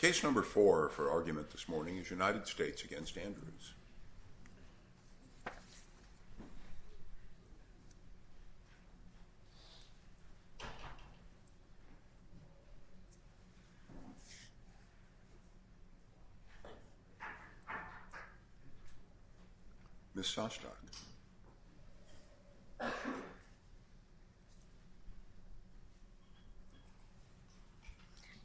Case number four for argument this morning is United States v. Andrews. Ms. Sostok.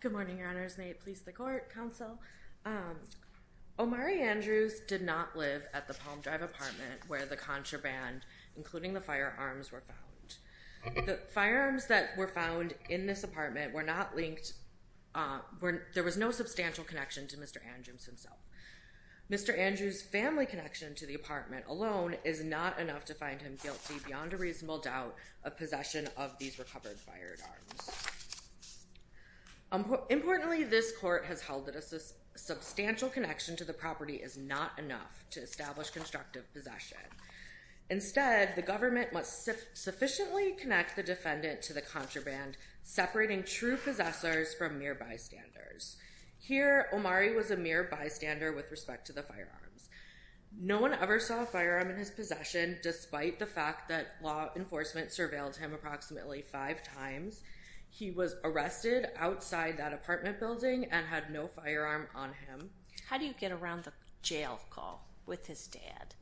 Good morning, your honors. May it please the court, counsel. Omari Andrews did not live at the Palm Drive apartment where the contraband, including the firearms, were found. The firearms that were found in this apartment were not linked. There was no substantial connection to Mr. Andrews himself. Mr. Andrews' family connection to the apartment alone is not enough to find him guilty beyond a reasonable doubt of possession of these recovered firearms. Importantly, this court has held that a substantial connection to the property is not enough to establish constructive possession. Instead, the government must sufficiently connect the defendant to the contraband, separating true possessors from mere bystanders. Here, Omari was a mere bystander with respect to the firearms. No one ever saw a firearm in his possession, despite the fact that law enforcement surveilled him approximately five times. He was arrested outside that apartment building and had no firearm on him. How do you get around the jail call with his dad?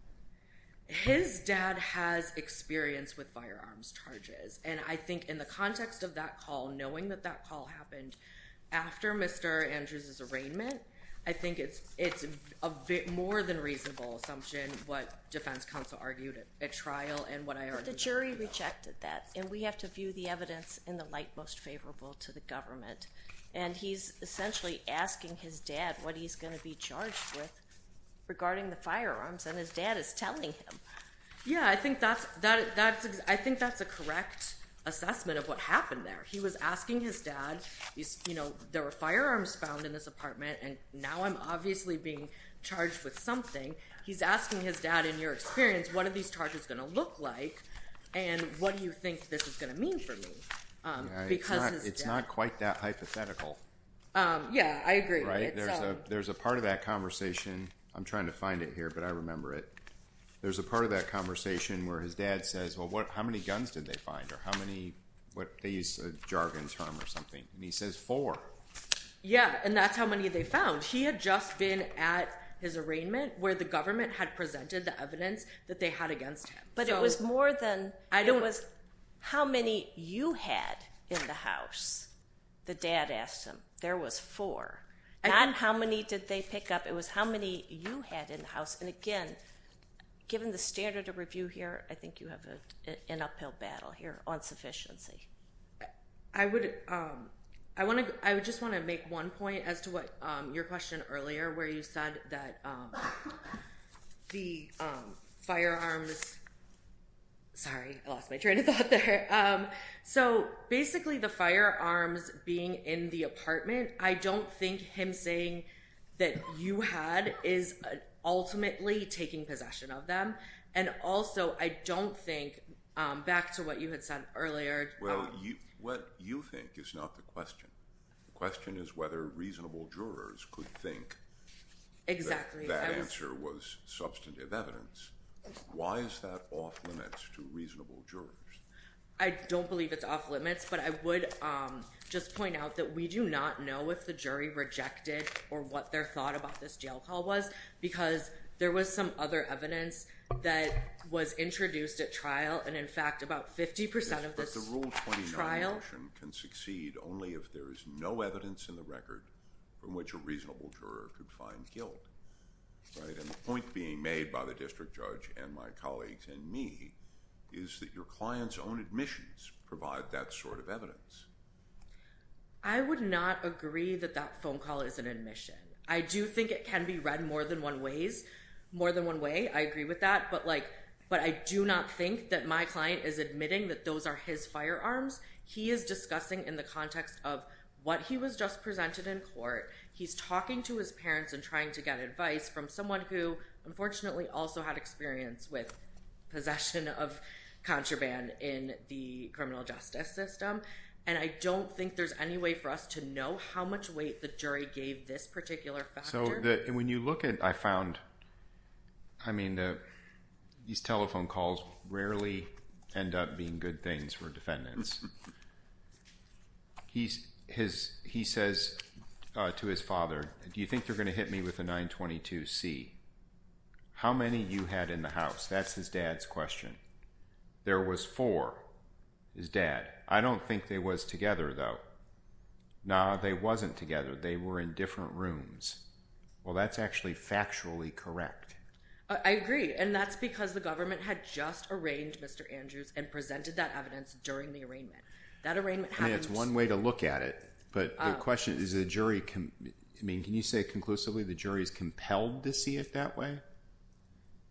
His dad has experience with firearms charges. And I think in the context of that call, knowing that that call happened after Mr. Andrews' arraignment, I think it's a bit more than a reasonable assumption what defense counsel argued at trial and what I argued. But the jury rejected that, and we have to view the evidence in the light most favorable to the government. And he's essentially asking his dad what he's going to be charged with regarding the firearms, and his dad is telling him. Yeah, I think that's a correct assessment of what happened there. He was asking his dad, you know, there were firearms found in this apartment, and now I'm obviously being charged with something. He's asking his dad, in your experience, what are these charges going to look like, and what do you think this is going to mean for me? It's not quite that hypothetical. Yeah, I agree with it. There's a part of that conversation. I'm trying to find it here, but I remember it. There's a part of that conversation where his dad says, well, how many guns did they find? Or how many, they use a jargon term or something, and he says four. Yeah, and that's how many they found. He had just been at his arraignment where the government had presented the evidence that they had against him. But it was more than, it was how many you had in the house, the dad asked him. There was four. Not how many did they pick up. It was how many you had in the house. And again, given the standard of review here, I think you have an uphill battle here on sufficiency. I would just want to make one point as to what your question earlier where you said that the firearms, sorry, I lost my train of thought there. So basically the firearms being in the apartment, I don't think him saying that you had is ultimately taking possession of them. And also, I don't think, back to what you had said earlier. Well, what you think is not the question. The question is whether reasonable jurors could think that answer was substantive evidence. Why is that off limits to reasonable jurors? I don't believe it's off limits. But I would just point out that we do not know if the jury rejected or what their thought about this jail call was. Because there was some other evidence that was introduced at trial. And in fact, about 50% of this trial. But the Rule 29 motion can succeed only if there is no evidence in the record from which a reasonable juror could find guilt. And the point being made by the district judge and my colleagues and me is that your client's own admissions provide that sort of evidence. I would not agree that that phone call is an admission. I do think it can be read more than one ways, more than one way. I agree with that. But like, but I do not think that my client is admitting that those are his firearms. He is discussing in the context of what he was just presented in court. He's talking to his parents and trying to get advice from someone who, unfortunately, also had experience with possession of contraband in the criminal justice system. And I don't think there's any way for us to know how much weight the jury gave this particular factor. So when you look at, I found, I mean, these telephone calls rarely end up being good things for defendants. He says to his father, do you think they're going to hit me with a 922C? How many you had in the house? That's his dad's question. There was four, his dad. I don't think they was together, though. No, they wasn't together. They were in different rooms. Well, that's actually factually correct. I agree. And that's because the government had just arranged Mr. Andrews and presented that evidence during the arraignment. That arraignment happened— I mean, it's one way to look at it. But the question is the jury, I mean, can you say conclusively the jury is compelled to see it that way?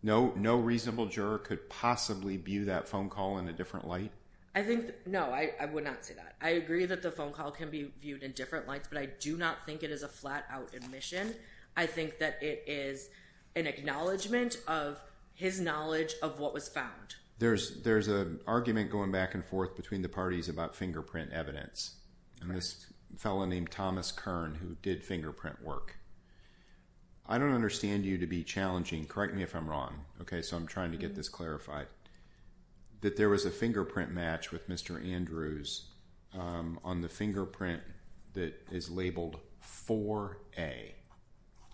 No reasonable juror could possibly view that phone call in a different light? I think, no, I would not say that. I agree that the phone call can be viewed in different lights, but I do not think it is a flat-out admission. I think that it is an acknowledgment of his knowledge of what was found. There's an argument going back and forth between the parties about fingerprint evidence, and this fellow named Thomas Kern, who did fingerprint work. I don't understand you to be challenging—correct me if I'm wrong, okay, so I'm trying to get this clarified— that there was a fingerprint match with Mr. Andrews on the fingerprint that is labeled 4A.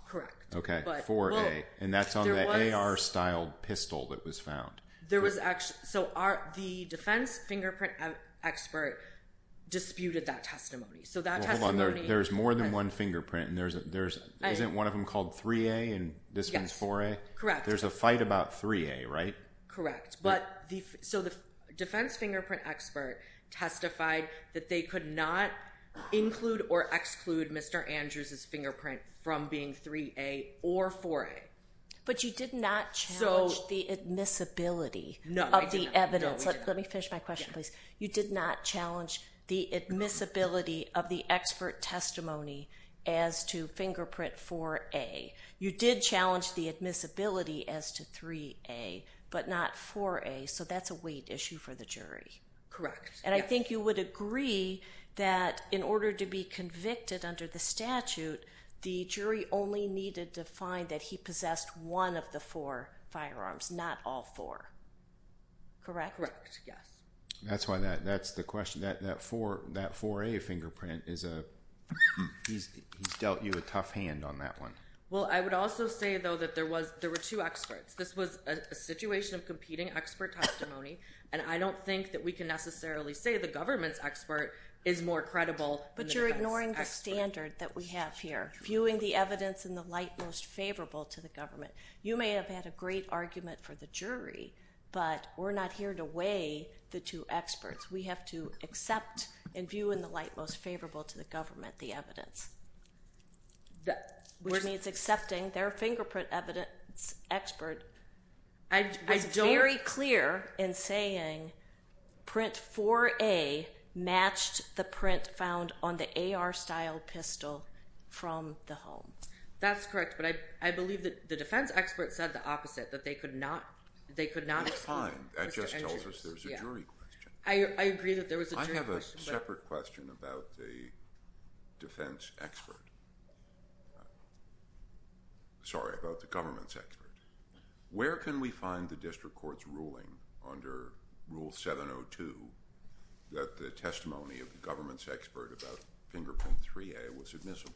Correct. Okay, 4A, and that's on the AR-styled pistol that was found. There was actually—so the defense fingerprint expert disputed that testimony. So that testimony— Hold on, there's more than one fingerprint, and there's—isn't one of them called 3A and this one's 4A? Yes, correct. There's a fight about 3A, right? Correct. So the defense fingerprint expert testified that they could not include or exclude Mr. Andrews' fingerprint from being 3A or 4A. But you did not challenge the admissibility of the evidence. No, I did not. Let me finish my question, please. You did not challenge the admissibility of the expert testimony as to fingerprint 4A. You did challenge the admissibility as to 3A, but not 4A, so that's a weight issue for the jury. Correct, yes. And I think you would agree that in order to be convicted under the statute, the jury only needed to find that he possessed one of the four firearms, not all four. Correct? Correct, yes. That's why that—that's the question—that 4A fingerprint is a—he's dealt you a tough hand on that one. Well, I would also say, though, that there was—there were two experts. This was a situation of competing expert testimony, and I don't think that we can necessarily say the government's expert is more credible than the defense expert. But you're ignoring the standard that we have here, viewing the evidence in the light most favorable to the government. You may have had a great argument for the jury, but we're not here to weigh the two experts. We have to accept and view in the light most favorable to the government the evidence. Which means accepting their fingerprint evidence expert. I don't— It's very clear in saying print 4A matched the print found on the AR-style pistol from the home. That's correct, but I believe that the defense expert said the opposite, that they could not—they could not— That's fine. That just tells us there's a jury question. I agree that there was a jury question, but— Sorry, about the government's expert. Where can we find the district court's ruling under Rule 702 that the testimony of the government's expert about fingerprint 3A was admissible?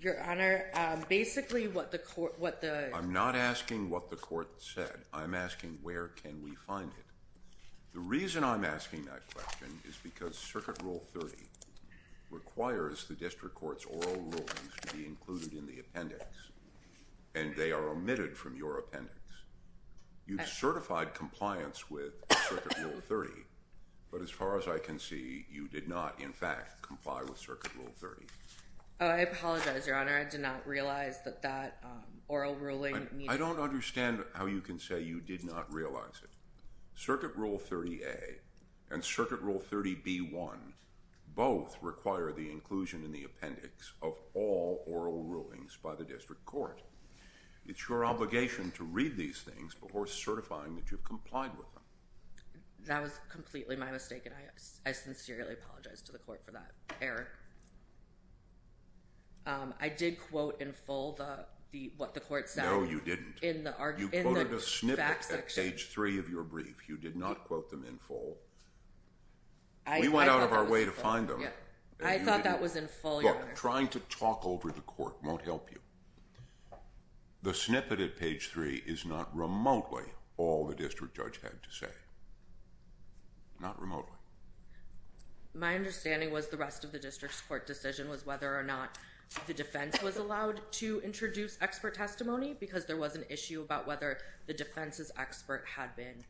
Your Honor, basically what the court— I'm not asking what the court said. I'm asking where can we find it. The reason I'm asking that question is because Circuit Rule 30 requires the district court's oral rulings to be included in the appendix, and they are omitted from your appendix. You've certified compliance with Circuit Rule 30, but as far as I can see, you did not, in fact, comply with Circuit Rule 30. I apologize, Your Honor. I did not realize that that oral ruling— I don't understand how you can say you did not realize it. Circuit Rule 30A and Circuit Rule 30B1 both require the inclusion in the appendix of all oral rulings by the district court. It's your obligation to read these things before certifying that you've complied with them. That was completely my mistake, and I sincerely apologize to the court for that error. I did quote in full what the court said— No, you didn't. You quoted a snippet at page 3 of your brief. You did not quote them in full. We went out of our way to find them. I thought that was in full, Your Honor. Look, trying to talk over the court won't help you. The snippet at page 3 is not remotely all the district judge had to say. Not remotely. My understanding was the rest of the district's court decision was whether or not the defense was allowed to introduce expert testimony because there was an issue about whether the defense's expert had been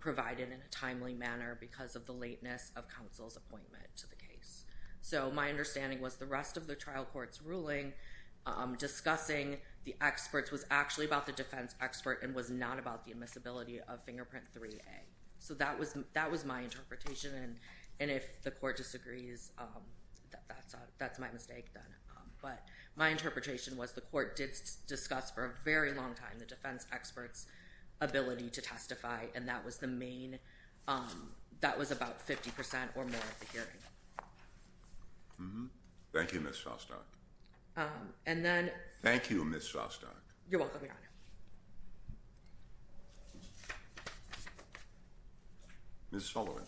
provided in a timely manner because of the lateness of counsel's appointment to the case. So my understanding was the rest of the trial court's ruling discussing the experts was actually about the defense expert and was not about the admissibility of Fingerprint 3A. So that was my interpretation, and if the court disagrees, that's my mistake then. But my interpretation was the court did discuss for a very long time the defense expert's ability to testify, and that was about 50 percent or more of the hearing. Thank you, Ms. Shostak. And then— Thank you, Ms. Shostak. You're welcome, Your Honor. Ms. Sullivan.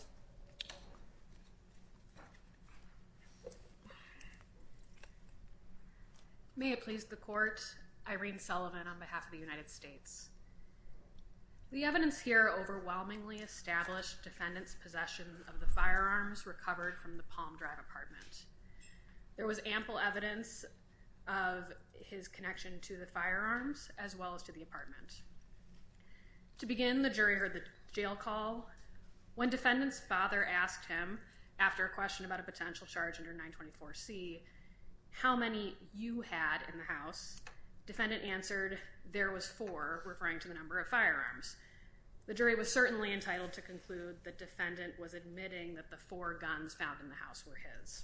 May it please the court, Irene Sullivan on behalf of the United States. The evidence here overwhelmingly established defendant's possession of the firearms recovered from the Palm Drive apartment. There was ample evidence of his connection to the firearms as well as to the apartment. To begin, the jury heard the jail call. When defendant's father asked him, after a question about a potential charge under 924C, how many you had in the house, defendant answered, there was four, referring to the number of firearms. The jury was certainly entitled to conclude the defendant was admitting that the four guns found in the house were his.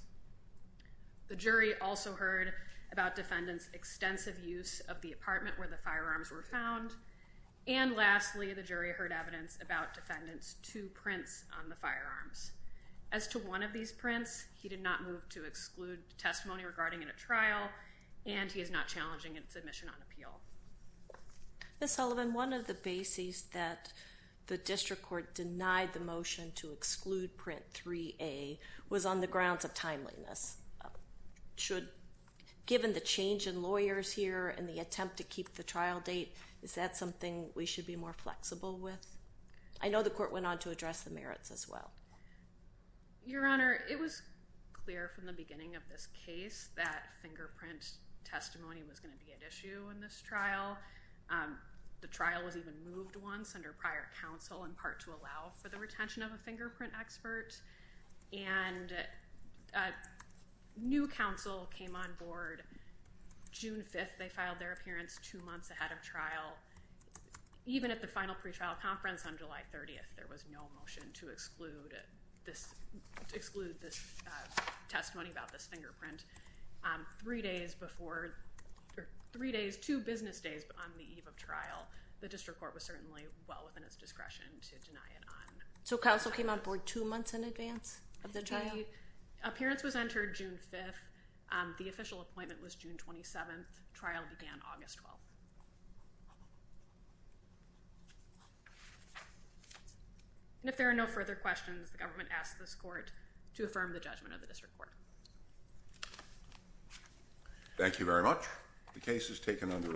The jury also heard about defendant's extensive use of the apartment where the firearms were found. And lastly, the jury heard evidence about defendant's two prints on the firearms. As to one of these prints, he did not move to exclude testimony regarding it at trial, and he is not challenging its admission on appeal. Ms. Sullivan, one of the bases that the district court denied the motion to exclude print 3A was on the grounds of timeliness. Given the change in lawyers here and the attempt to keep the trial date, is that something we should be more flexible with? I know the court went on to address the merits as well. Your Honor, it was clear from the beginning of this case that fingerprint testimony was going to be at issue in this trial. The trial was even moved once under prior counsel, in part to allow for the retention of a fingerprint expert. And a new counsel came on board. June 5th, they filed their appearance two months ahead of trial. Even at the final pretrial conference on July 30th, there was no motion to exclude this testimony about this fingerprint. Three days before, three days, two business days on the eve of trial, the district court was certainly well within its discretion to deny it on. So counsel came on board two months in advance of the trial? The appearance was entered June 5th. The official appointment was June 27th. Trial began August 12th. And if there are no further questions, the government asks this court to affirm the judgment of the district court. Thank you very much. The case is taken under advisement.